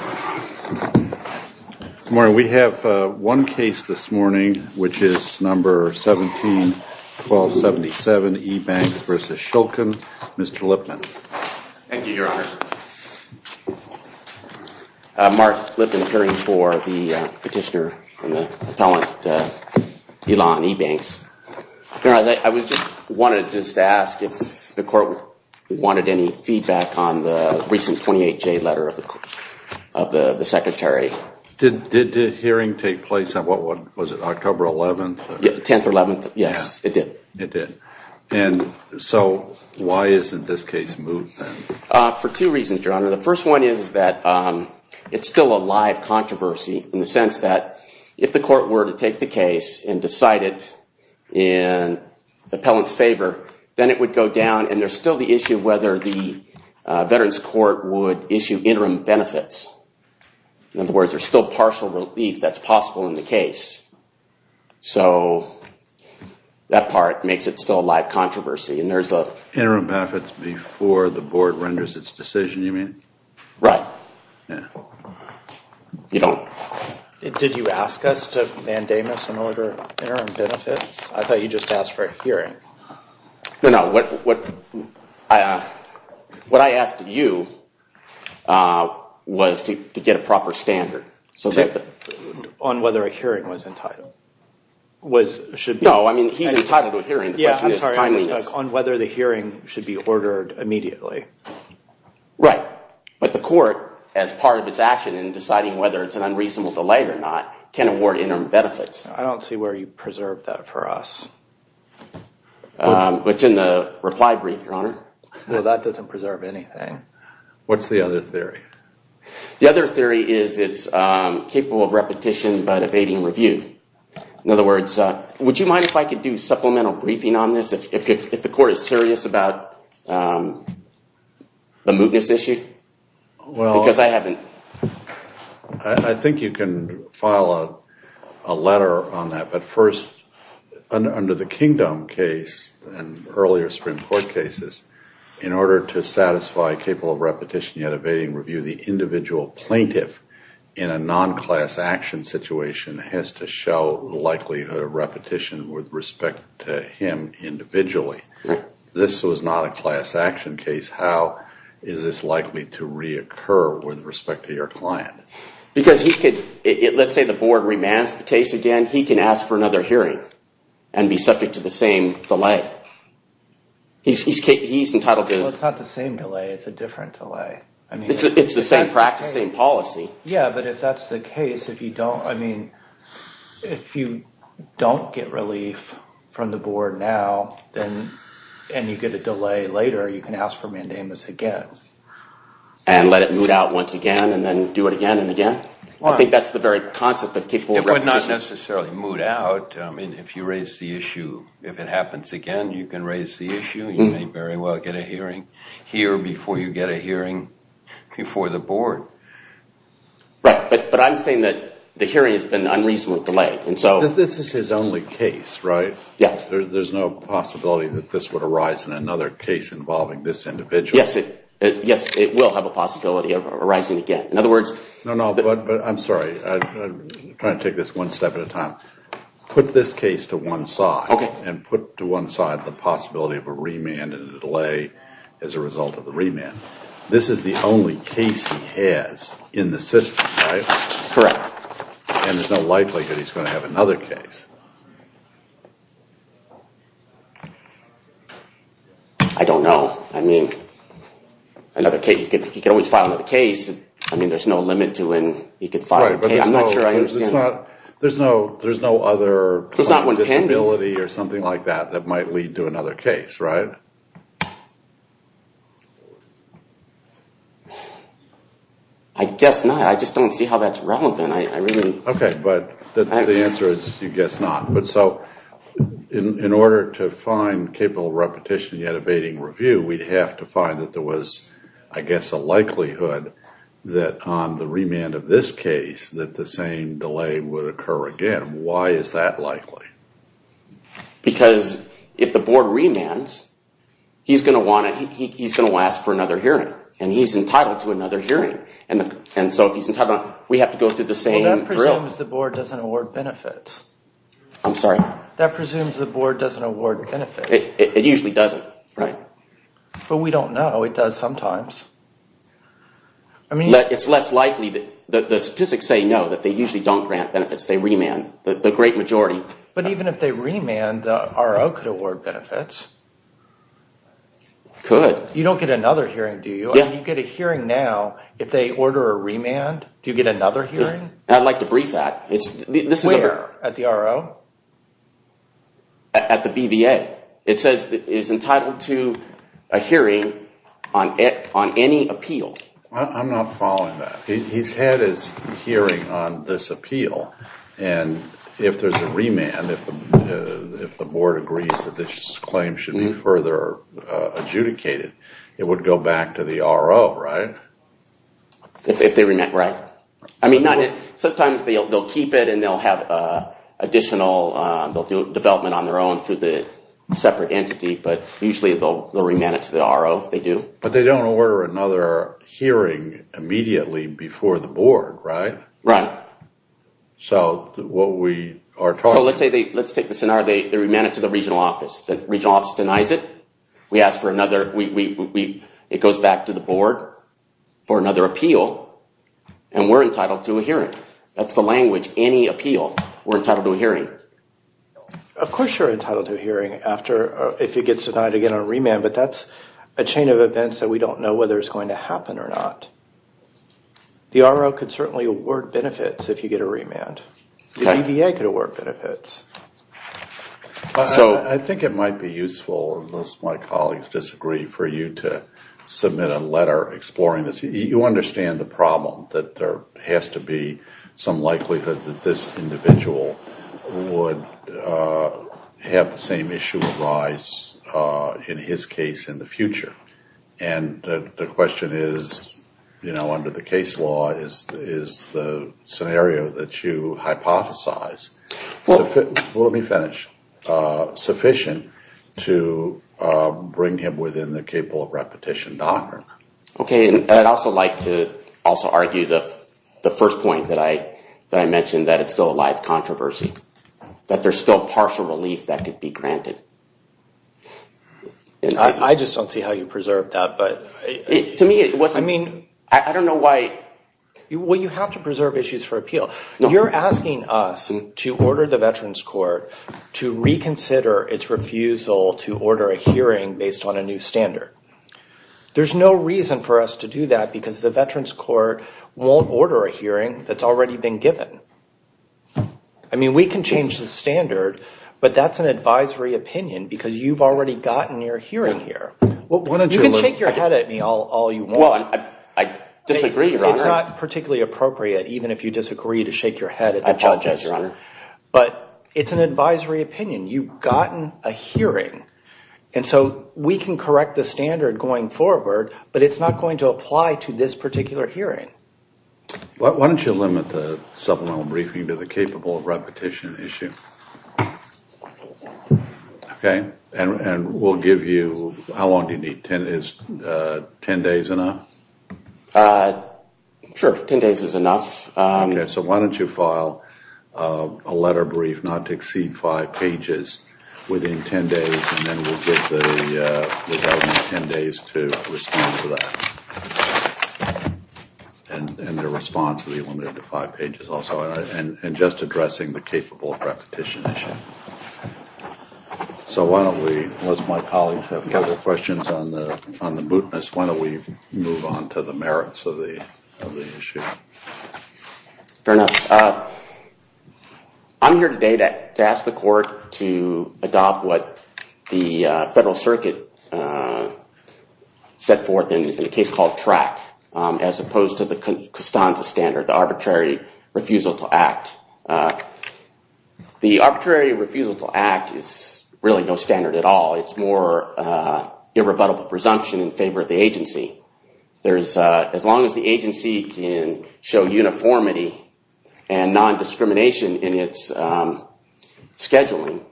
Good morning. We have one case this morning which is number 17-1277, Ebanks v. Shulkin. Mr. Lippman. Thank you, Your Honor. Mark Lippman, appearing for the petitioner and the appellant, Elon Ebanks. I just wanted to ask if the court wanted any feedback on the recent 28-J letter of the Secretary. Did the hearing take place on October 11th? Yes, it did. So why isn't this case moved? For two reasons, Your Honor. The first one is that it's still a live controversy in the sense that if the court were to take the case and decide it in the appellant's favor, then it would go down and there's still the issue of whether the Veterans Court would issue interim benefits. In other words, there's still partial relief that's possible in the case. So that part makes it still a live controversy. Interim benefits before the board renders its decision, you mean? Right. Did you ask us to mandamus an order of interim benefits? I thought you just asked for a hearing. No, no. What I asked you was to get a proper standard. On whether a hearing was entitled. No, I mean, he's entitled to a hearing. On whether the hearing should be ordered immediately. Right. But the court, as part of its action in deciding whether it's an unreasonable delay or not, can award interim benefits. I don't see where you preserved that for us. It's in the reply brief, Your Honor. No, that doesn't preserve anything. What's the other theory? The other theory is it's capable of repetition but evading review. In other words, would you mind if I could do supplemental briefing on this, if the court is serious about the Moogus issue? Because I haven't... I think you can file a letter on that. But first, under the Kingdome case and earlier Supreme Court cases, in order to satisfy capable of repetition yet evading review, the individual plaintiff in a non-class action situation has to show likelihood of repetition with respect to him individually. This was not a class action case. How is this likely to reoccur with respect to your client? Because he could – let's say the board remands the case again, he can ask for another hearing and be subject to the same delay. He's entitled to... Well, it's not the same delay. It's a different delay. It's the same practice, same policy. Yeah, but if that's the case, if you don't – I mean, if you don't get relief from the board now and you get a delay later, you can ask for mandamus again. And let it moot out once again and then do it again and again. I think that's the very concept of capable of repetition. It would not necessarily moot out. I mean, if you raise the issue, if it happens again, you can raise the issue. You may very well get a hearing here before you get a hearing before the board. Right, but I'm saying that the hearing has been unreasonably delayed. This is his only case, right? Yes. There's no possibility that this would arise in another case involving this individual. Yes, it will have a possibility of arising again. In other words... No, no, but I'm sorry. I'm trying to take this one step at a time. Put this case to one side. Okay. And put to one side the possibility of a remand and a delay as a result of the remand. This is the only case he has in the system, right? Correct. And there's no likelihood he's going to have another case. I don't know. I mean, he could always file another case. I mean, there's no limit to when he could file a case. I'm not sure I understand that. There's no other disability or something like that that might lead to another case, right? I guess not. I just don't see how that's relevant. Okay, but the answer is you guess not. But so in order to find capable repetition yet evading review, we'd have to find that there was, I guess, a likelihood that on the remand of this case that the same delay would occur again. Why is that likely? Because if the board remands, he's going to want to ask for another hearing. And he's entitled to another hearing. And so if he's entitled, we have to go through the same drill. That presumes the board doesn't award benefits. I'm sorry? That presumes the board doesn't award benefits. It usually doesn't, right? But we don't know. It does sometimes. It's less likely. The statistics say no, that they usually don't grant benefits. They remand the great majority. But even if they remand, the RO could award benefits. Could. You don't get another hearing, do you? You get a hearing now. If they order a remand, do you get another hearing? I'd like to brief that. Where? At the RO? At the BVA. It says it's entitled to a hearing on any appeal. I'm not following that. He's had his hearing on this appeal. And if there's a remand, if the board agrees that this claim should be further adjudicated, it would go back to the RO, right? If they remand, right. I mean, sometimes they'll keep it and they'll have additional development on their own through the separate entity. But usually they'll remand it to the RO if they do. But they don't order another hearing immediately before the board, right? Right. So what we are talking about... So let's take the scenario. They remand it to the regional office. The regional office denies it. We ask for another... It goes back to the board for another appeal, and we're entitled to a hearing. That's the language. Any appeal, we're entitled to a hearing. Of course you're entitled to a hearing if it gets denied again on a remand, but that's a chain of events that we don't know whether it's going to happen or not. The RO could certainly award benefits if you get a remand. The BVA could award benefits. So I think it might be useful, unless my colleagues disagree, for you to submit a letter exploring this. You understand the problem that there has to be some likelihood that this individual would have the same issue arise, in his case, in the future. And the question is, you know, under the case law, is the scenario that you hypothesize sufficient? Let me finish. Sufficient to bring him within the capable repetition doctrine. Okay, and I'd also like to also argue the first point that I mentioned, that it's still a live controversy. That there's still partial relief that could be granted. I just don't see how you preserve that, but... To me, it wasn't... I mean... I don't know why... Well, you have to preserve issues for appeal. You're asking us to order the Veterans Court to reconsider its refusal to order a hearing based on a new standard. There's no reason for us to do that, because the Veterans Court won't order a hearing that's already been given. I mean, we can change the standard, but that's an advisory opinion, because you've already gotten your hearing here. You can shake your head at me all you want. I disagree, Your Honor. It's not particularly appropriate, even if you disagree, to shake your head. I apologize, Your Honor. But it's an advisory opinion. You've gotten a hearing, and so we can correct the standard going forward, but it's not going to apply to this particular hearing. Why don't you limit the supplemental briefing to the capable repetition issue? Okay, and we'll give you... How long do you need? Is ten days enough? Sure, ten days is enough. Okay, so why don't you file a letter brief not to exceed five pages within ten days, and then we'll give the government ten days to respond to that. And the response will be limited to five pages also, and just addressing the capable repetition issue. So why don't we, once my colleagues have their questions on the boot list, why don't we move on to the merits of the issue? Fair enough. I'm here today to ask the court to adopt what the Federal Circuit set forth in a case called TRAC, as opposed to the Costanza standard, the arbitrary refusal to act. The arbitrary refusal to act is really no standard at all. It's more irrebuttable presumption in favor of the agency. As long as the agency can show uniformity and non-discrimination in its scheduling,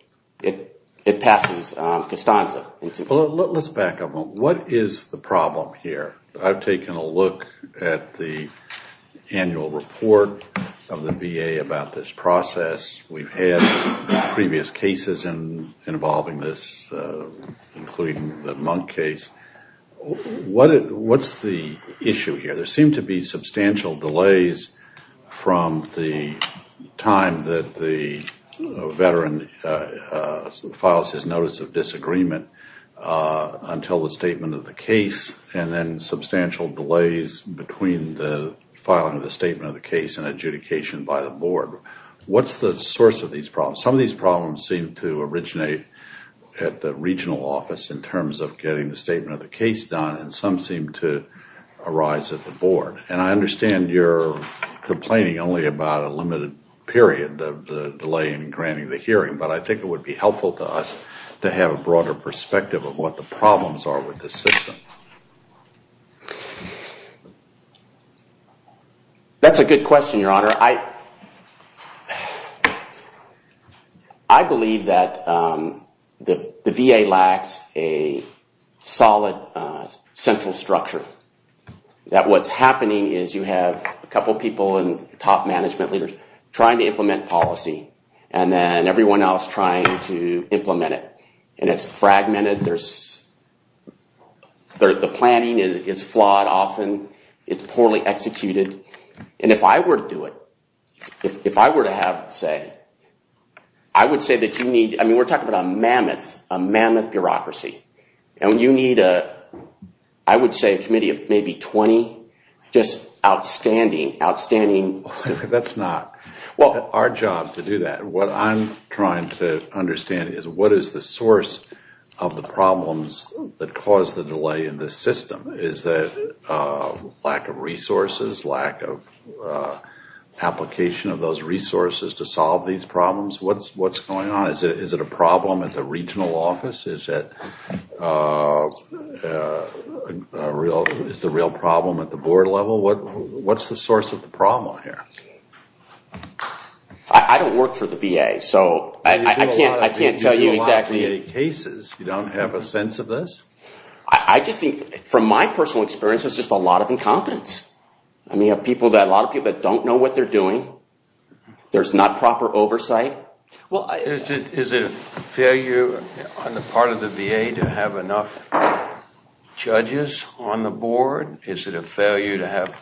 it passes Costanza. Let's back up a moment. What is the problem here? I've taken a look at the annual report of the VA about this process. We've had previous cases involving this, including the Monk case. What's the issue here? There seem to be substantial delays from the time that the veteran files his notice of disagreement until the statement of the case, and then substantial delays between the filing of the statement of the case and adjudication by the board. What's the source of these problems? Some of these problems seem to originate at the regional office in terms of getting the statement of the case done, and some seem to arise at the board. And I understand you're complaining only about a limited period of the delay in granting the hearing, but I think it would be helpful to us to have a broader perspective of what the problems are with this system. That's a good question, Your Honor. I believe that the VA lacks a solid central structure. That what's happening is you have a couple of people and top management leaders trying to implement policy, and then everyone else trying to implement it. And it's fragmented. The planning is flawed often. It's poorly executed. And if I were to do it, if I were to have say, I would say that you need, I mean, we're talking about a mammoth, a mammoth bureaucracy. And you need, I would say, a committee of maybe 20 just outstanding, outstanding... That's not our job to do that. What I'm trying to understand is what is the source of the problems that cause the delay in this system? Is it lack of resources, lack of application of those resources to solve these problems? What's going on? Is it a problem at the regional office? Is it a real problem at the board level? What's the source of the problem here? I don't work for the VA, so I can't tell you exactly... You do a lot of VA cases. You don't have a sense of this? I just think, from my personal experience, there's just a lot of incompetence. I mean, a lot of people that don't know what they're doing. There's not proper oversight. Well, is it a failure on the part of the VA to have enough judges on the board? Is it a failure to have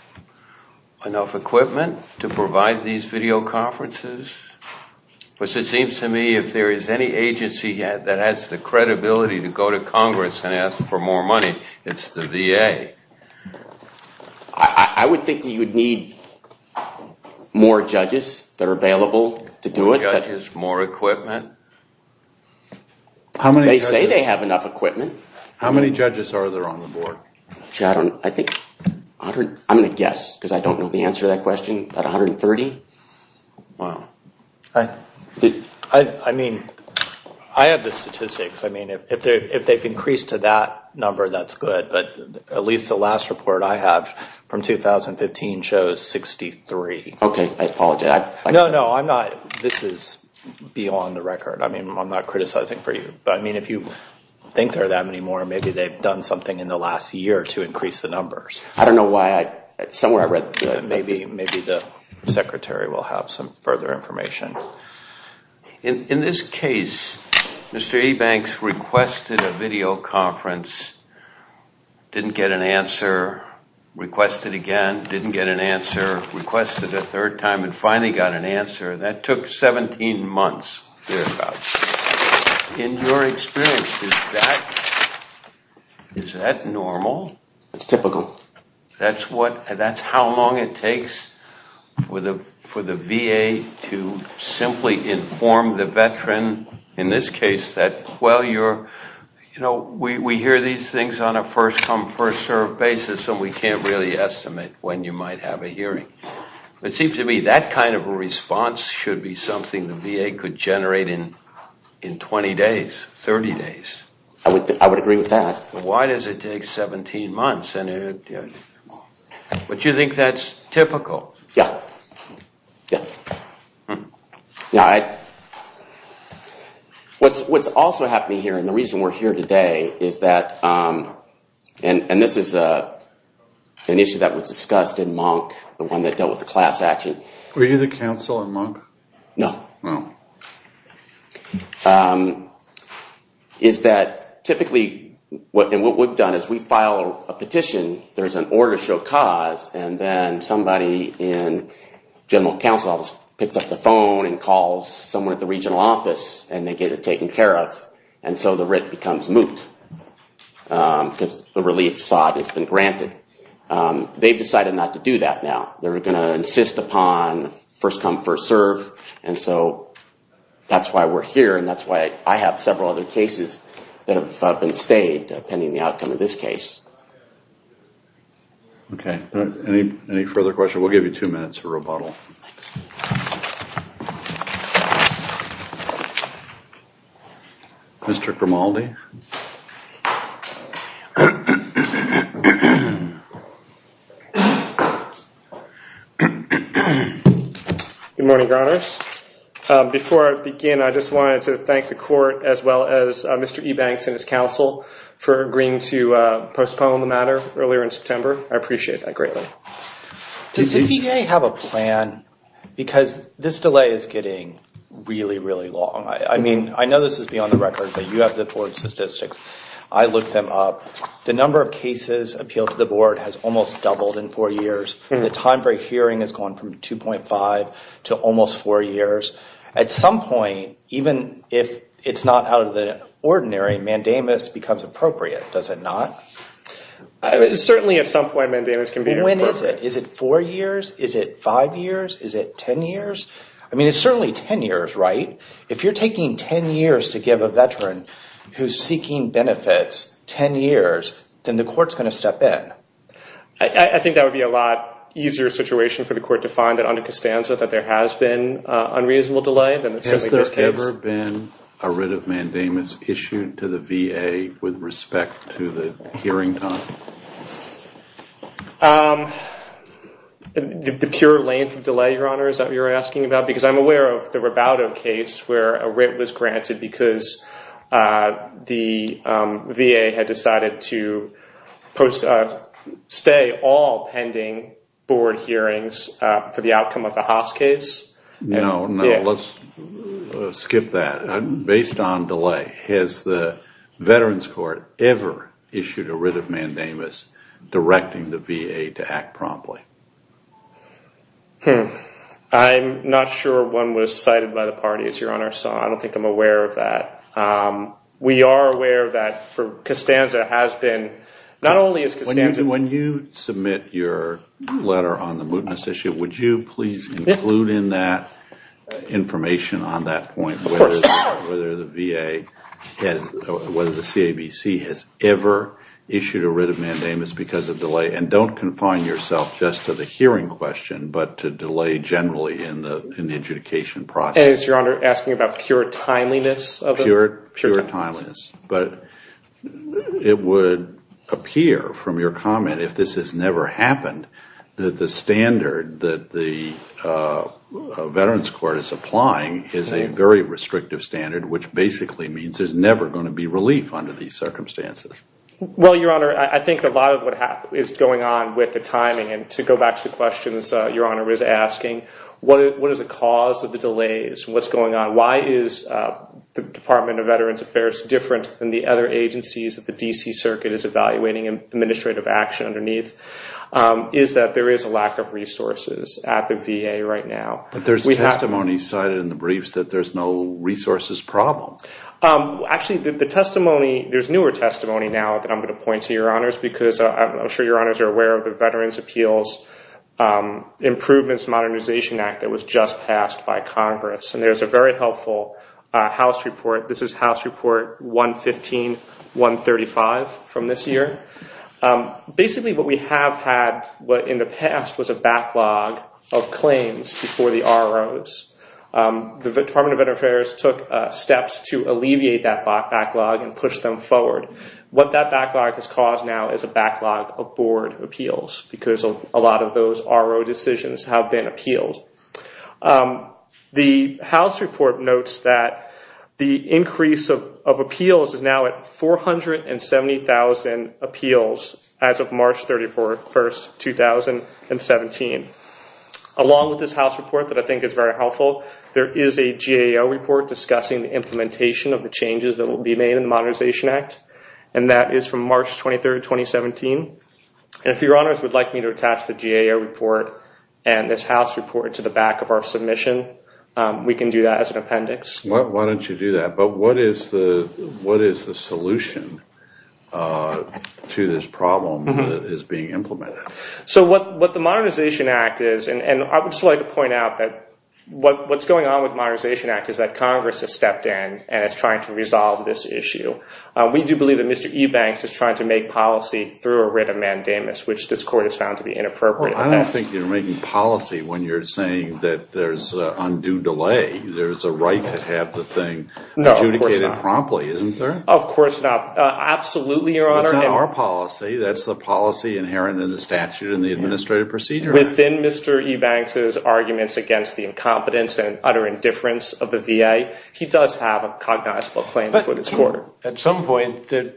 enough equipment to provide these video conferences? Because it seems to me if there is any agency that has the credibility to go to Congress and ask for more money, it's the VA. I would think that you would need more judges that are available to do it. More judges, more equipment? They say they have enough equipment. How many judges are there on the board? I'm going to guess, because I don't know the answer to that question. About 130? Wow. I mean, I have the statistics. I mean, if they've increased to that number, that's good. But at least the last report I have from 2015 shows 63. Okay, I apologize. No, no, I'm not. This is beyond the record. I mean, I'm not criticizing for you. I mean, if you think there are that many more, maybe they've done something in the last year to increase the numbers. I don't know why. Somewhere I read that. Maybe the secretary will have some further information. In this case, Mr. Ebanks requested a video conference, didn't get an answer, requested again, didn't get an answer, requested a third time and finally got an answer. That took 17 months. In your experience, is that normal? It's typical. That's how long it takes for the VA to simply inform the veteran, in this case, that, well, we hear these things on a first-come, first-served basis, and we can't really estimate when you might have a hearing. It seems to me that kind of a response should be something the VA could generate in 20 days, 30 days. I would agree with that. Why does it take 17 months? But you think that's typical? Yeah. Yeah. What's also happening here, and the reason we're here today is that, and this is an issue that was discussed in Monk, the one that dealt with the class action. Were you the counsel in Monk? No. Oh. Is that typically what we've done is we file a petition, there's an order to show cause, and then somebody in general counsel picks up the phone and calls someone at the regional office, and they get it taken care of, and so the writ becomes moot because the relief has been granted. They've decided not to do that now. They're going to insist upon first-come, first-served, and so that's why we're here, and that's why I have several other cases that have been stayed pending the outcome of this case. Okay. Any further questions? We'll give you two minutes for rebuttal. Mr. Cromaldi. Good morning, Your Honors. Before I begin, I just wanted to thank the court as well as Mr. Ebanks and his counsel for agreeing to postpone the matter earlier in September. I appreciate that greatly. Does the TA have a plan? Because this delay is getting really, really long. I mean, I know this is beyond the record, but you have the board statistics. I looked them up. The number of cases appealed to the board has almost doubled in four years. The time for a hearing has gone from 2.5 to almost four years. At some point, even if it's not out of the ordinary, mandamus becomes appropriate. Does it not? Certainly, at some point, mandamus can be appropriate. When is it? Is it four years? Is it five years? Is it ten years? I mean, it's certainly ten years, right? If you're taking ten years to give a veteran who's seeking benefits ten years, then the court's going to step in. I think that would be a lot easier situation for the court to find that under Costanza that there has been unreasonable delay. Has there ever been a writ of mandamus issued to the VA with respect to the hearing time? The pure length of delay, Your Honor, is what you're asking about? Because I'm aware of the Rabaudo case where a writ was granted because the VA had decided to stay all pending board hearings for the outcome of the Haas case. No, no, let's skip that. Based on delay, has the Veterans Court ever issued a writ of mandamus directing the VA to act promptly? I'm not sure one was cited by the parties, Your Honor, so I don't think I'm aware of that. We are aware that for Costanza has been, not only is Costanza When you submit your letter on the mootness issue, would you please include in that information on that point whether the VA has, whether the CABC has ever issued a writ of mandamus because of delay? And don't confine yourself just to the hearing question, but to delay generally in the adjudication process. And is Your Honor asking about pure timeliness of it? Pure timeliness. But it would appear from your comment, if this has never happened, that the standard that the Veterans Court is applying is a very restrictive standard, which basically means there's never going to be relief under these circumstances. Well, Your Honor, I think a lot of what is going on with the timing, and to go back to the questions Your Honor was asking, what is the cause of the delays and what's going on? Why is the Department of Veterans Affairs different than the other agencies that the D.C. Circuit is evaluating administrative action underneath, is that there is a lack of resources at the VA right now. But there's testimony cited in the briefs that there's no resources problem. Actually, the testimony, there's newer testimony now that I'm going to point to, Your Honors, because I'm sure Your Honors are aware of the Veterans Appeals Improvements Modernization Act that was just passed by Congress. And there's a very helpful House report. This is House Report 115-135 from this year. Basically, what we have had in the past was a backlog of claims before the ROs. The Department of Veterans Affairs took steps to alleviate that backlog and push them forward. What that backlog has caused now is a backlog of board appeals because a lot of those RO decisions have been appealed. The House report notes that the increase of appeals is now at 470,000 appeals as of March 31, 2017. Along with this House report that I think is very helpful, there is a GAO report discussing the implementation of the changes that will be made in the Modernization Act. And that is from March 23, 2017. And if Your Honors would like me to attach the GAO report and this House report to the back of our submission, we can do that as an appendix. Why don't you do that? But what is the solution to this problem that is being implemented? So what the Modernization Act is, and I would just like to point out that what's going on with the Modernization Act is that Congress has stepped in and is trying to resolve this issue. We do believe that Mr. Ebanks is trying to make policy through a writ of mandamus, which this Court has found to be inappropriate. I don't think you're making policy when you're saying that there's undue delay. There's a right to have the thing adjudicated promptly, isn't there? Of course not. Absolutely, Your Honor. That's not our policy. That's the policy inherent in the statute and the administrative procedure. Within Mr. Ebanks' arguments against the incompetence and utter indifference of the VA, he does have a cognizable claim before this Court. At some point, the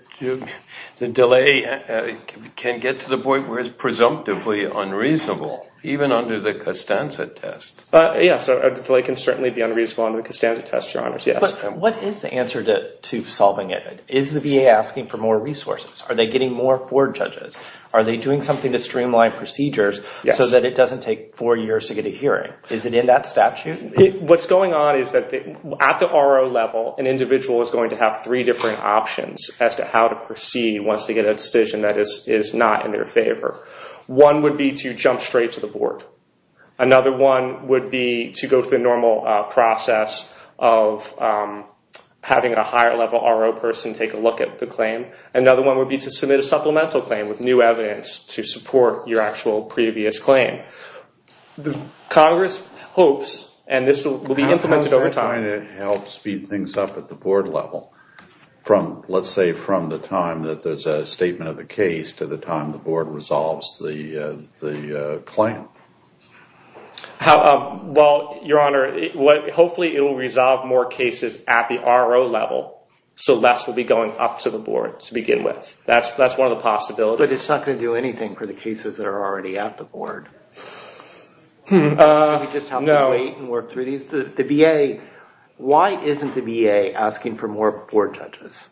delay can get to the point where it's presumptively unreasonable, even under the Costanza test. Yes, a delay can certainly be unreasonable under the Costanza test, Your Honors, yes. But what is the answer to solving it? Is the VA asking for more resources? Are they getting more court judges? Are they doing something to streamline procedures so that it doesn't take four years to get a hearing? Is it in that statute? What's going on is that at the RO level, an individual is going to have three different options as to how to proceed once they get a decision that is not in their favor. One would be to jump straight to the board. Another one would be to go through the normal process of having a higher level RO person take a look at the claim. Another one would be to submit a supplemental claim with new evidence to support your actual previous claim. Congress hopes, and this will be implemented over time. Are they trying to help speed things up at the board level? Let's say from the time that there's a statement of the case to the time the board resolves the claim. Well, Your Honor, hopefully it will resolve more cases at the RO level so less will be going up to the board to begin with. That's one of the possibilities. But it's not going to do anything for the cases that are already at the board. No. The VA, why isn't the VA asking for more board judges?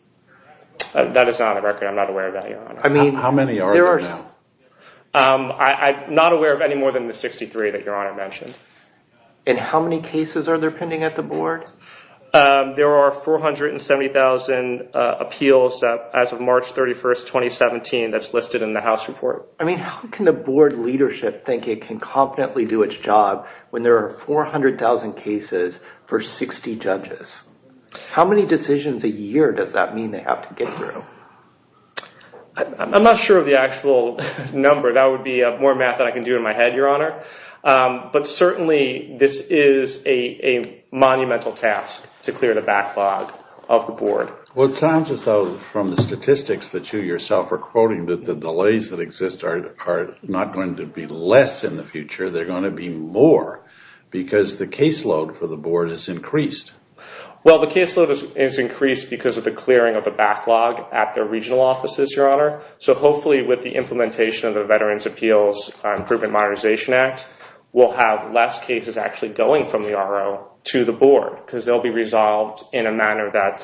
That is not on the record. I'm not aware of that, Your Honor. How many are there now? I'm not aware of any more than the 63 that Your Honor mentioned. And how many cases are there pending at the board? There are 470,000 appeals as of March 31st, 2017 that's listed in the House report. I mean, how can the board leadership think it can confidently do its job when there are 400,000 cases for 60 judges? How many decisions a year does that mean they have to get through? I'm not sure of the actual number. That would be more math than I can do in my head, Your Honor. But certainly this is a monumental task to clear the backlog of the board. Well, it sounds as though from the statistics that you yourself are quoting that the delays that exist are not going to be less in the future. They're going to be more because the caseload for the board is increased. Well, the caseload is increased because of the clearing of the backlog at the regional offices, Your Honor. So hopefully with the implementation of the Veterans Appeals Improvement Modernization Act, we'll have less cases actually going from the RO to the board because they'll be resolved in a manner that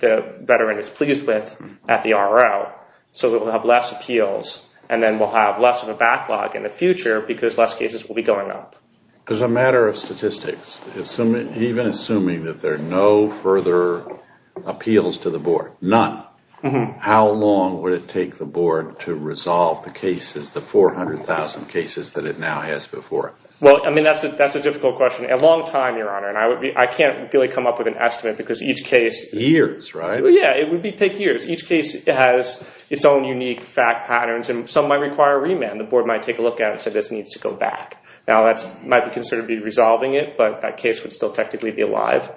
the veteran is pleased with at the RO. So we'll have less appeals and then we'll have less of a backlog in the future because less cases will be going up. As a matter of statistics, even assuming that there are no further appeals to the board, none, how long would it take the board to resolve the cases, the 400,000 cases that it now has before it? Well, I mean, that's a difficult question. A long time, Your Honor, and I can't really come up with an estimate because each case… Years, right? Yeah, it would take years. Each case has its own unique fact patterns and some might require a remand. The board might take a look at it and say this needs to go back. Now, that might be considered to be resolving it, but that case would still technically be alive.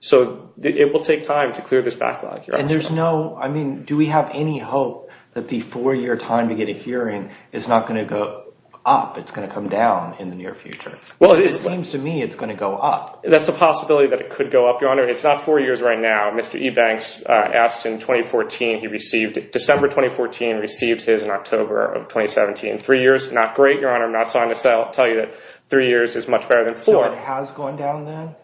So it will take time to clear this backlog, Your Honor. And there's no, I mean, do we have any hope that the four-year time to get a hearing is not going to go up, it's going to come down in the near future? Well, it is. It seems to me it's going to go up. That's a possibility that it could go up, Your Honor. It's not four years right now. Mr. Ebanks asked in 2014, he received it. December 2014 received his in October of 2017. Three years, not great, Your Honor. I'm not trying to tell you that three years is much better than four. So it has gone down then?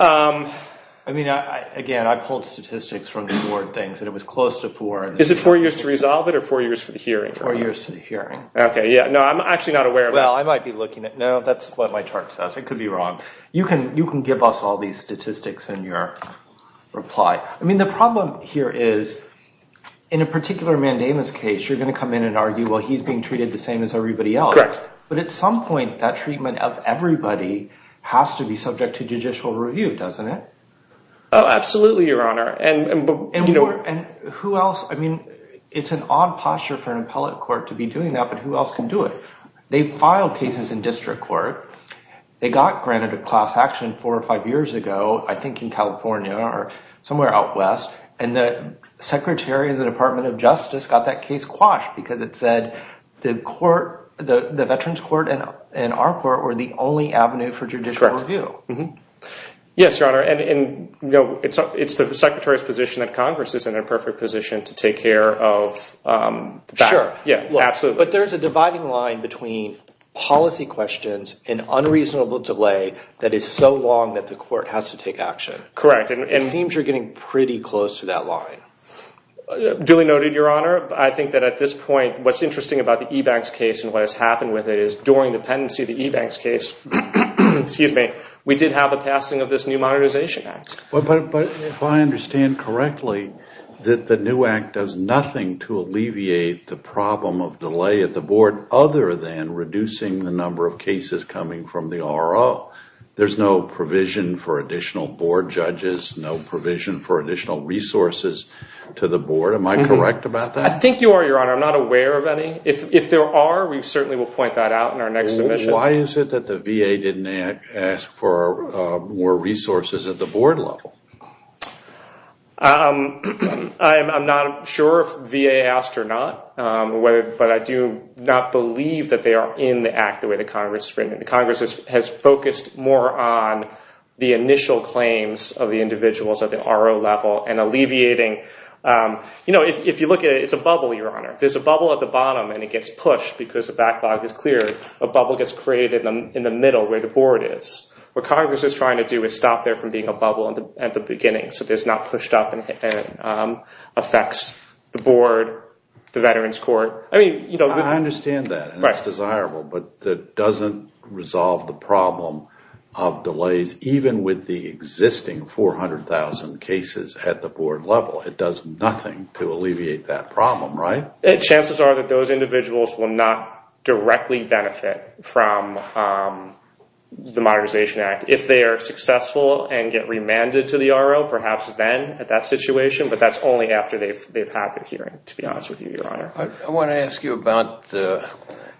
I mean, again, I pulled statistics from the board things that it was close to four. Is it four years to resolve it or four years for the hearing? Four years to the hearing. Okay, yeah. No, I'm actually not aware of that. Well, I might be looking at… No, that's what my chart says. I could be wrong. You can give us all these statistics in your reply. I mean, the problem here is in a particular mandamus case, you're going to come in and argue, well, he's being treated the same as everybody else. Correct. But at some point, that treatment of everybody has to be subject to judicial review, doesn't it? Oh, absolutely, Your Honor. And who else? I mean, it's an odd posture for an appellate court to be doing that, but who else can do it? They filed cases in district court. They got granted a class action four or five years ago, I think in California or somewhere out west, and the secretary of the Department of Justice got that case quashed because it said the veterans court and our court were the only avenue for judicial review. Correct. Yes, Your Honor, and it's the secretary's position that Congress is in a perfect position to take care of that. Sure. Yeah, absolutely. But there is a dividing line between policy questions and unreasonable delay that is so long that the court has to take action. Correct, and it seems you're getting pretty close to that line. Duly noted, Your Honor. I think that at this point, what's interesting about the e-banks case and what has happened with it is during the pendency of the e-banks case, we did have a passing of this new monetization act. But if I understand correctly, that the new act does nothing to alleviate the problem of delay at the board other than reducing the number of cases coming from the RO. There's no provision for additional board judges, no provision for additional resources to the board. Am I correct about that? I think you are, Your Honor. I'm not aware of any. If there are, we certainly will point that out in our next submission. Why is it that the VA didn't ask for more resources at the board level? I'm not sure if VA asked or not, but I do not believe that they are in the act the way the Congress has written it. The Congress has focused more on the initial claims of the individuals at the RO level and alleviating. If you look at it, it's a bubble, Your Honor. There's a bubble at the bottom and it gets pushed because the backlog is clear. A bubble gets created in the middle where the board is. What Congress is trying to do is stop there from being a bubble at the beginning so it's not pushed up and affects the board, the veterans court. I mean, you know. I understand that. Right. It's desirable, but that doesn't resolve the problem of delays even with the existing 400,000 cases at the board level. It does nothing to alleviate that problem, right? Chances are that those individuals will not directly benefit from the Modernization Act. If they are successful and get remanded to the RO, perhaps then at that situation, but that's only after they've had their hearing, to be honest with you, Your Honor. I want to ask you about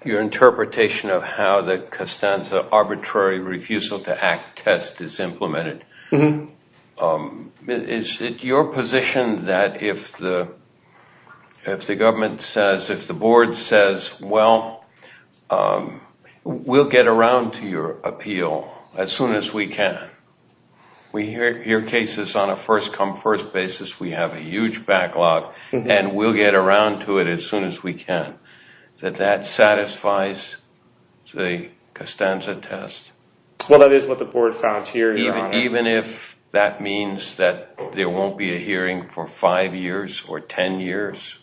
your interpretation of how the Costanza Arbitrary Refusal to Act test is implemented. Is it your position that if the government says, if the board says, well, we'll get around to your appeal as soon as we can, we hear cases on a first-come-first basis, we have a huge backlog and we'll get around to it as soon as we can, that that satisfies the Costanza test? Well, that is what the board found, Your Honor. Even if that means that there won't be a hearing for five years or ten years?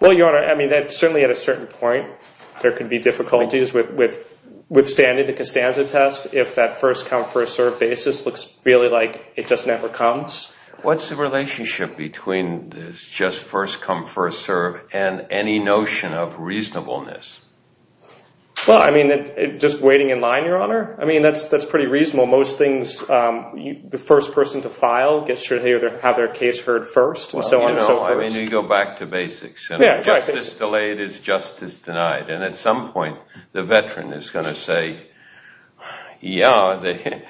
Well, Your Honor, I mean, certainly at a certain point there could be difficulties withstanding the Costanza test if that first-come-first-served basis looks really like it just never comes. What's the relationship between this just first-come-first-served and any notion of reasonableness? Well, I mean, just waiting in line, Your Honor? I mean, that's pretty reasonable. Most things, the first person to file gets to have their case heard first and so on and so forth. I mean, you go back to basics. Justice delayed is justice denied. And at some point the veteran is going to say, yeah,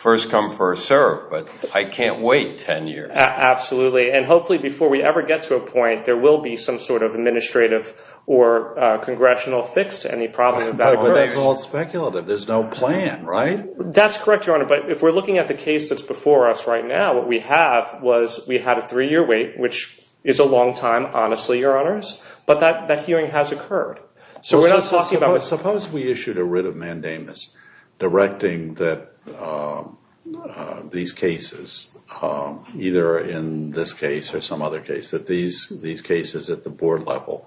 first-come-first-served, but I can't wait ten years. Absolutely. And hopefully before we ever get to a point there will be some sort of administrative or congressional fix to any problem that occurs. But that's all speculative. There's no plan, right? That's correct, Your Honor. But if we're looking at the case that's before us right now, what we have was we had a three-year wait, which is a long time, honestly, Your Honors, but that hearing has occurred. So we're not talking about— Suppose we issued a writ of mandamus directing that these cases, either in this case or some other case, that these cases at the board level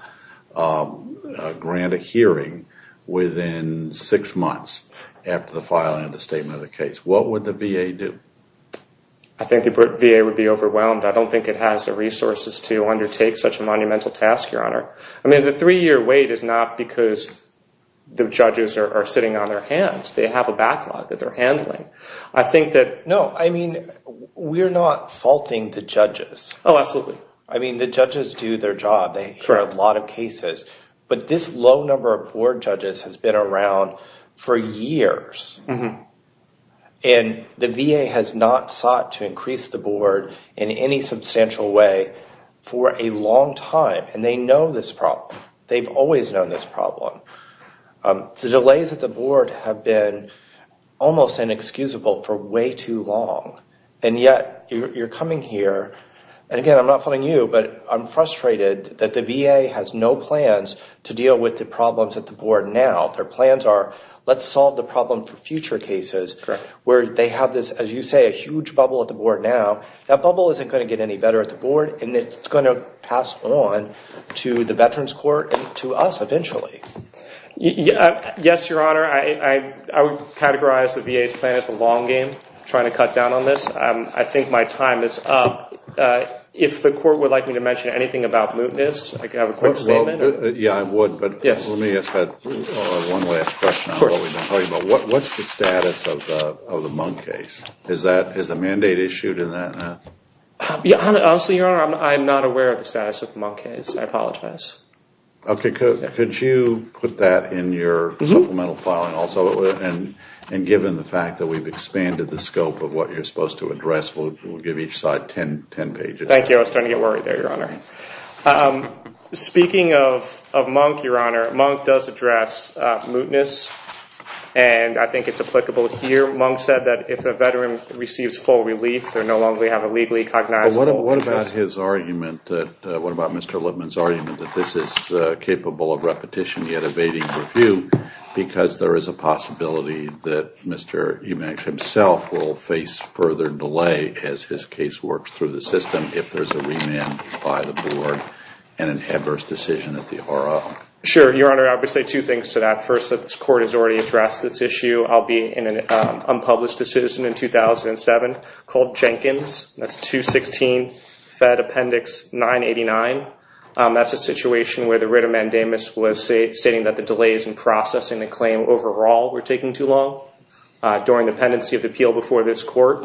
grant a hearing within six months after the filing of the statement of the case. What would the VA do? I think the VA would be overwhelmed. I don't think it has the resources to undertake such a monumental task, Your Honor. I mean, the three-year wait is not because the judges are sitting on their hands. They have a backlog that they're handling. I think that— No, I mean, we're not faulting the judges. Oh, absolutely. I mean, the judges do their job. They hear a lot of cases. But this low number of board judges has been around for years. And the VA has not sought to increase the board in any substantial way for a long time. And they know this problem. They've always known this problem. The delays at the board have been almost inexcusable for way too long. And yet you're coming here. And, again, I'm not faulting you, but I'm frustrated that the VA has no plans to deal with the problems at the board now. Their plans are let's solve the problem for future cases where they have this, as you say, a huge bubble at the board now. That bubble isn't going to get any better at the board, and it's going to pass on to the Veterans Court and to us eventually. Yes, Your Honor. I would categorize the VA's plan as a long game, trying to cut down on this. I think my time is up. If the court would like me to mention anything about mootness, I could have a quick statement. Yeah, I would. But let me ask one last question. What's the status of the Munk case? Is the mandate issued in that? Honestly, Your Honor, I'm not aware of the status of the Munk case. I apologize. Okay. Could you put that in your supplemental filing also? And given the fact that we've expanded the scope of what you're supposed to address, we'll give each side 10 pages. Thank you. I was starting to get worried there, Your Honor. Speaking of Munk, Your Honor, Munk does address mootness, and I think it's applicable here. Munk said that if a veteran receives full relief, they no longer have a legally cognizable mootness. What about Mr. Lippman's argument that this is capable of repetition yet evading review because there is a possibility that Mr. Eubanks himself will face further delay as his case works through the system if there's a remand by the board and an adverse decision at the RO? Sure, Your Honor. I would say two things to that. First, the court has already addressed this issue. I'll be in an unpublished decision in 2007 called Jenkins. That's 216 Fed Appendix 989. That's a situation where the writ of mandamus was stating that the delays in processing the claim overall were taking too long. During the pendency of the appeal before this court,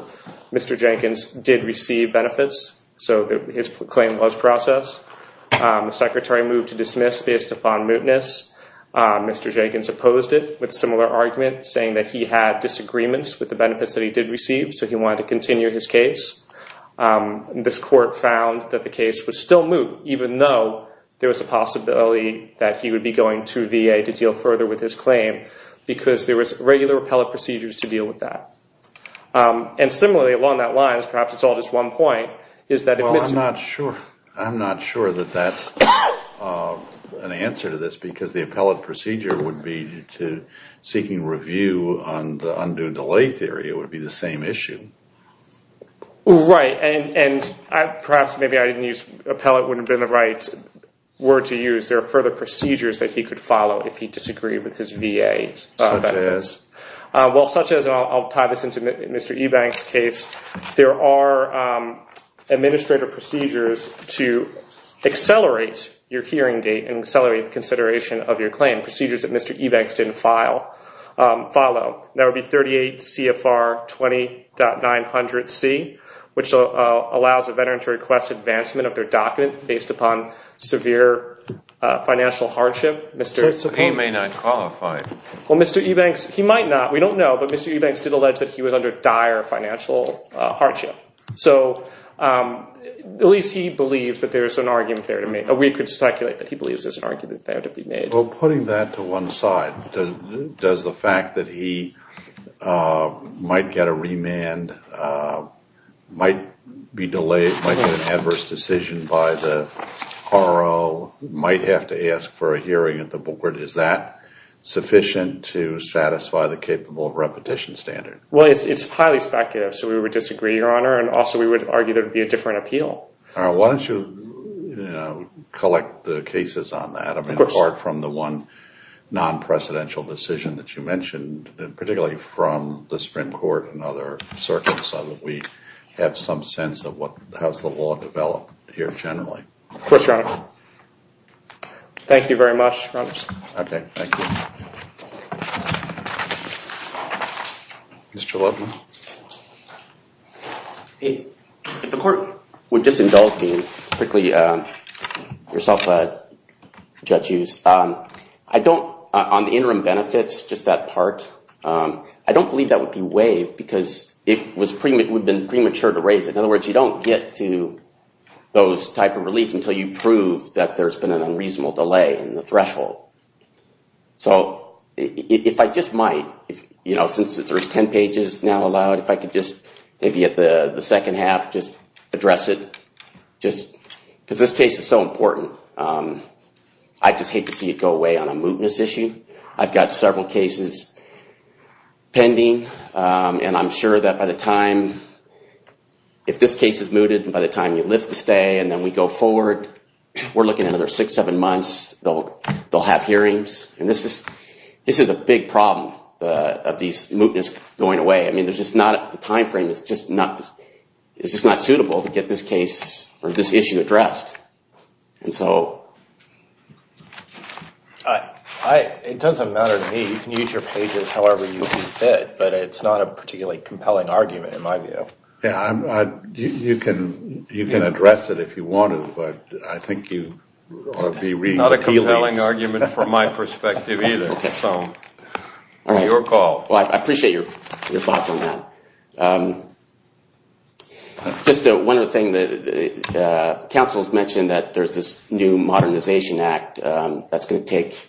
Mr. Jenkins did receive benefits, so his claim was processed. The secretary moved to dismiss based upon mootness. Mr. Jenkins opposed it with a similar argument, saying that he had disagreements with the benefits that he did receive, so he wanted to continue his case. This court found that the case was still moot, even though there was a possibility that he would be going to VA to deal further with his claim because there was regular appellate procedures to deal with that. Similarly, along that line, perhaps it's all just one point, is that if Mr. Eubanks… I'm not sure that that's an answer to this because the appellate procedure would be to seeking review on the undue delay theory. It would be the same issue. Right, and perhaps maybe I didn't use…appellate wouldn't have been the right word to use. There are further procedures that he could follow if he disagreed with his VA benefits. Such as? Well, such as, and I'll tie this into Mr. Eubanks' case, there are administrative procedures to accelerate your hearing date and accelerate the consideration of your claim, procedures that Mr. Eubanks didn't follow. That would be 38 CFR 20.900C, which allows a veteran to request advancement of their document based upon severe financial hardship. He may not qualify. Well, Mr. Eubanks, he might not. We don't know, but Mr. Eubanks did allege that he was under dire financial hardship. So at least he believes that there's an argument there to make. We could speculate that he believes there's an argument there to be made. Well, putting that to one side, does the fact that he might get a remand, might be delayed, might get an adverse decision by the RO, might have to ask for a hearing at the board, is that sufficient to satisfy the capable of repetition standard? Well, it's highly speculative, so we would disagree, Your Honor, and also we would argue there would be a different appeal. Why don't you collect the cases on that? I mean, apart from the one non-presidential decision that you mentioned, particularly from the Supreme Court and other circuits, so that we have some sense of what has the law developed here generally. Of course, Your Honor. Thank you very much, Your Honor. Okay, thank you. Mr. Levin. If the court would just indulge me quickly, Yourself, Judge Hughes. I don't, on the interim benefits, just that part, I don't believe that would be waived because it would have been premature to raise it. In other words, you don't get to those type of reliefs until you prove that there's been an unreasonable delay in the threshold. So if I just might, you know, since there's 10 pages now allowed, if I could just maybe at the second half just address it, just because this case is so important. I just hate to see it go away on a mootness issue. I've got several cases pending, and I'm sure that by the time, if this case is mooted and by the time you lift the stay and then we go forward, we're looking at another six, seven months, they'll have hearings, and this is a big problem of these mootness going away. I mean, there's just not, the time frame is just not, it's just not suitable to get this case or this issue addressed. And so... It doesn't matter to me. You can use your pages however you see fit, but it's not a particularly compelling argument in my view. You can address it if you wanted, but I think you ought to be... Not a compelling argument from my perspective either. Your call. Well, I appreciate your thoughts on that. Just one other thing. Council has mentioned that there's this new Modernization Act that's going to take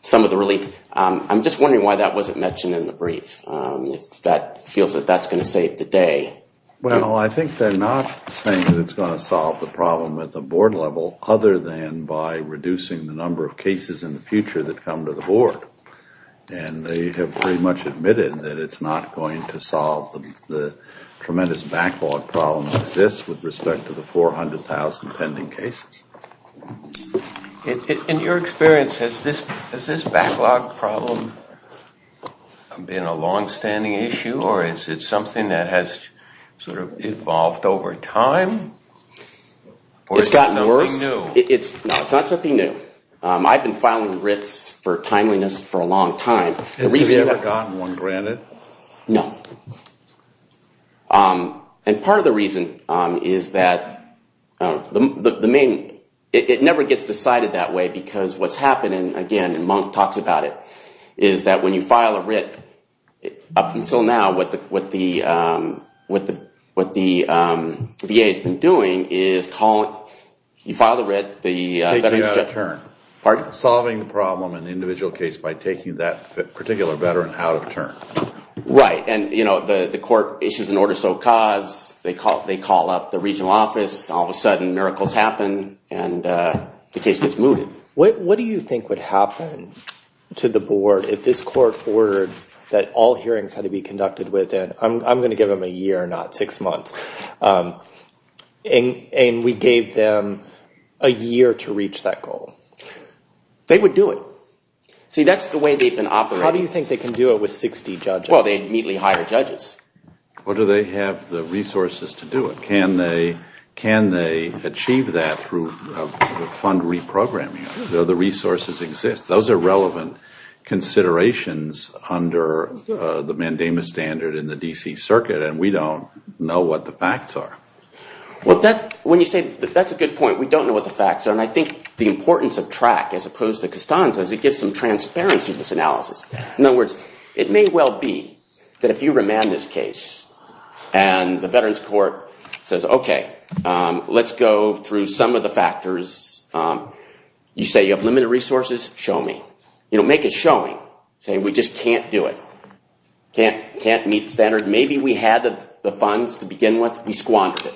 some of the relief. I'm just wondering why that wasn't mentioned in the brief, if that feels that that's going to save the day. Well, I think they're not saying that it's going to solve the problem at the board level, other than by reducing the number of cases in the future that come to the board. And they have pretty much admitted that it's not going to solve the tremendous backlog problem that exists with respect to the 400,000 pending cases. In your experience, has this backlog problem been a long-standing issue, or is it something that has sort of evolved over time? It's gotten worse. It's not something new. I've been filing writs for timeliness for a long time. Have you ever gotten one granted? No. And part of the reason is that it never gets decided that way, because what's happening, again, and Monk talks about it, is that when you file a writ, up until now, what the VA has been doing is you file the writ, the veteran's job… Taking out of turn. Pardon? Solving the problem in the individual case by taking that particular veteran out of turn. Right. And the court issues an order of sole cause. They call up the regional office. All of a sudden, miracles happen, and the case gets moved. What do you think would happen to the board if this court ordered that all hearings had to be conducted within, I'm going to give them a year, not six months, and we gave them a year to reach that goal? They would do it. See, that's the way they've been operating. How do you think they can do it with 60 judges? Well, they immediately hire judges. Or do they have the resources to do it? Can they achieve that through fund reprogramming? Do the resources exist? Those are relevant considerations under the mandamus standard in the D.C. Circuit, and we don't know what the facts are. When you say that, that's a good point. We don't know what the facts are, and I think the importance of TRAC as opposed to Costanza is it gives some transparency to this analysis. In other words, it may well be that if you remand this case and the Veterans Court says, okay, let's go through some of the factors. You say you have limited resources? Show me. Make it showing, saying we just can't do it, can't meet the standard. Maybe we had the funds to begin with. We squandered it.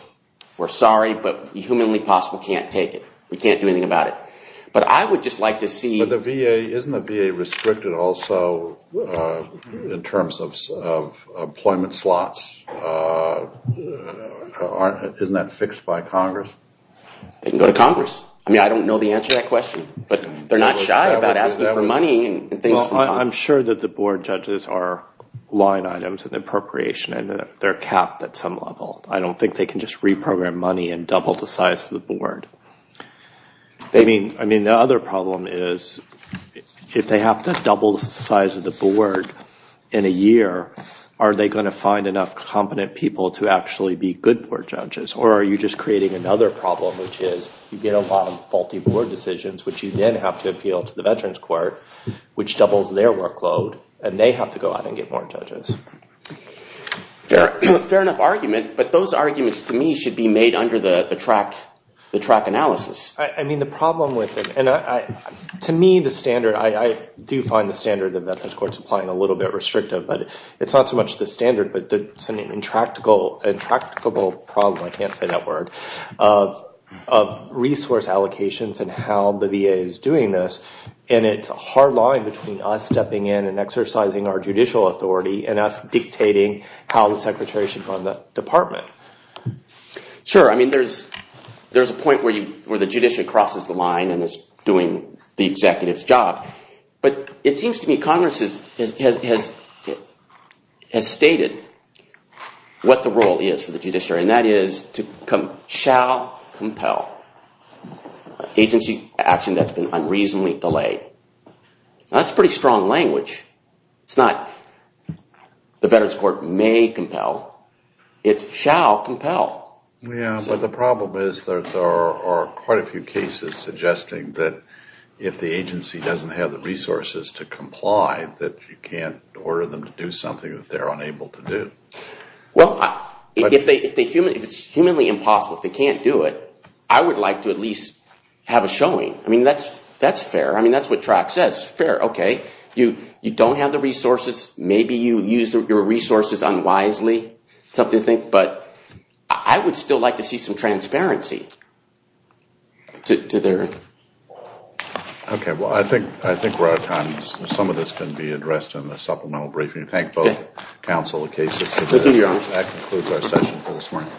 We're sorry, but the humanly possible can't take it. We can't do anything about it. But I would just like to see... But the VA, isn't the VA restricted also in terms of employment slots? Isn't that fixed by Congress? They can go to Congress. I mean, I don't know the answer to that question, but they're not shy about asking for money and things from Congress. Well, I'm sure that the board judges are line items and appropriation, and they're capped at some level. I don't think they can just reprogram money and double the size of the board. I mean, the other problem is if they have to double the size of the board in a year, are they going to find enough competent people to actually be good board judges, or are you just creating another problem, which is you get a lot of faulty board decisions, which you then have to appeal to the Veterans Court, which doubles their workload, and they have to go out and get more judges. Fair enough argument, but those arguments to me should be made under the track analysis. I mean, the problem with it, and to me the standard, I do find the standard of the Veterans Court's applying a little bit restrictive, but it's not so much the standard, but it's an intractable problem, I can't say that word, of resource allocations and how the VA is doing this, and it's a hard line between us stepping in and exercising our judicial authority and us dictating how the secretary should run the department. Sure, I mean, there's a point where the judiciary crosses the line and is doing the executive's job, but it seems to me Congress has stated what the role is for the judiciary, and that is to shall compel agency action that's been unreasonably delayed. That's pretty strong language. It's not the Veterans Court may compel, it's shall compel. Yeah, but the problem is there are quite a few cases suggesting that if the agency doesn't have the resources to comply, that you can't order them to do something that they're unable to do. Well, if it's humanly impossible, if they can't do it, I would like to at least have a showing. I mean, that's fair. I mean, that's what TROC says. Fair, okay. You don't have the resources. Maybe you use your resources unwisely, something to think, but I would still like to see some transparency. Okay, well, I think we're out of time. Some of this can be addressed in the supplemental briefing. Thank both counsel and cases. That concludes our session for this morning.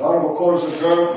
All rise.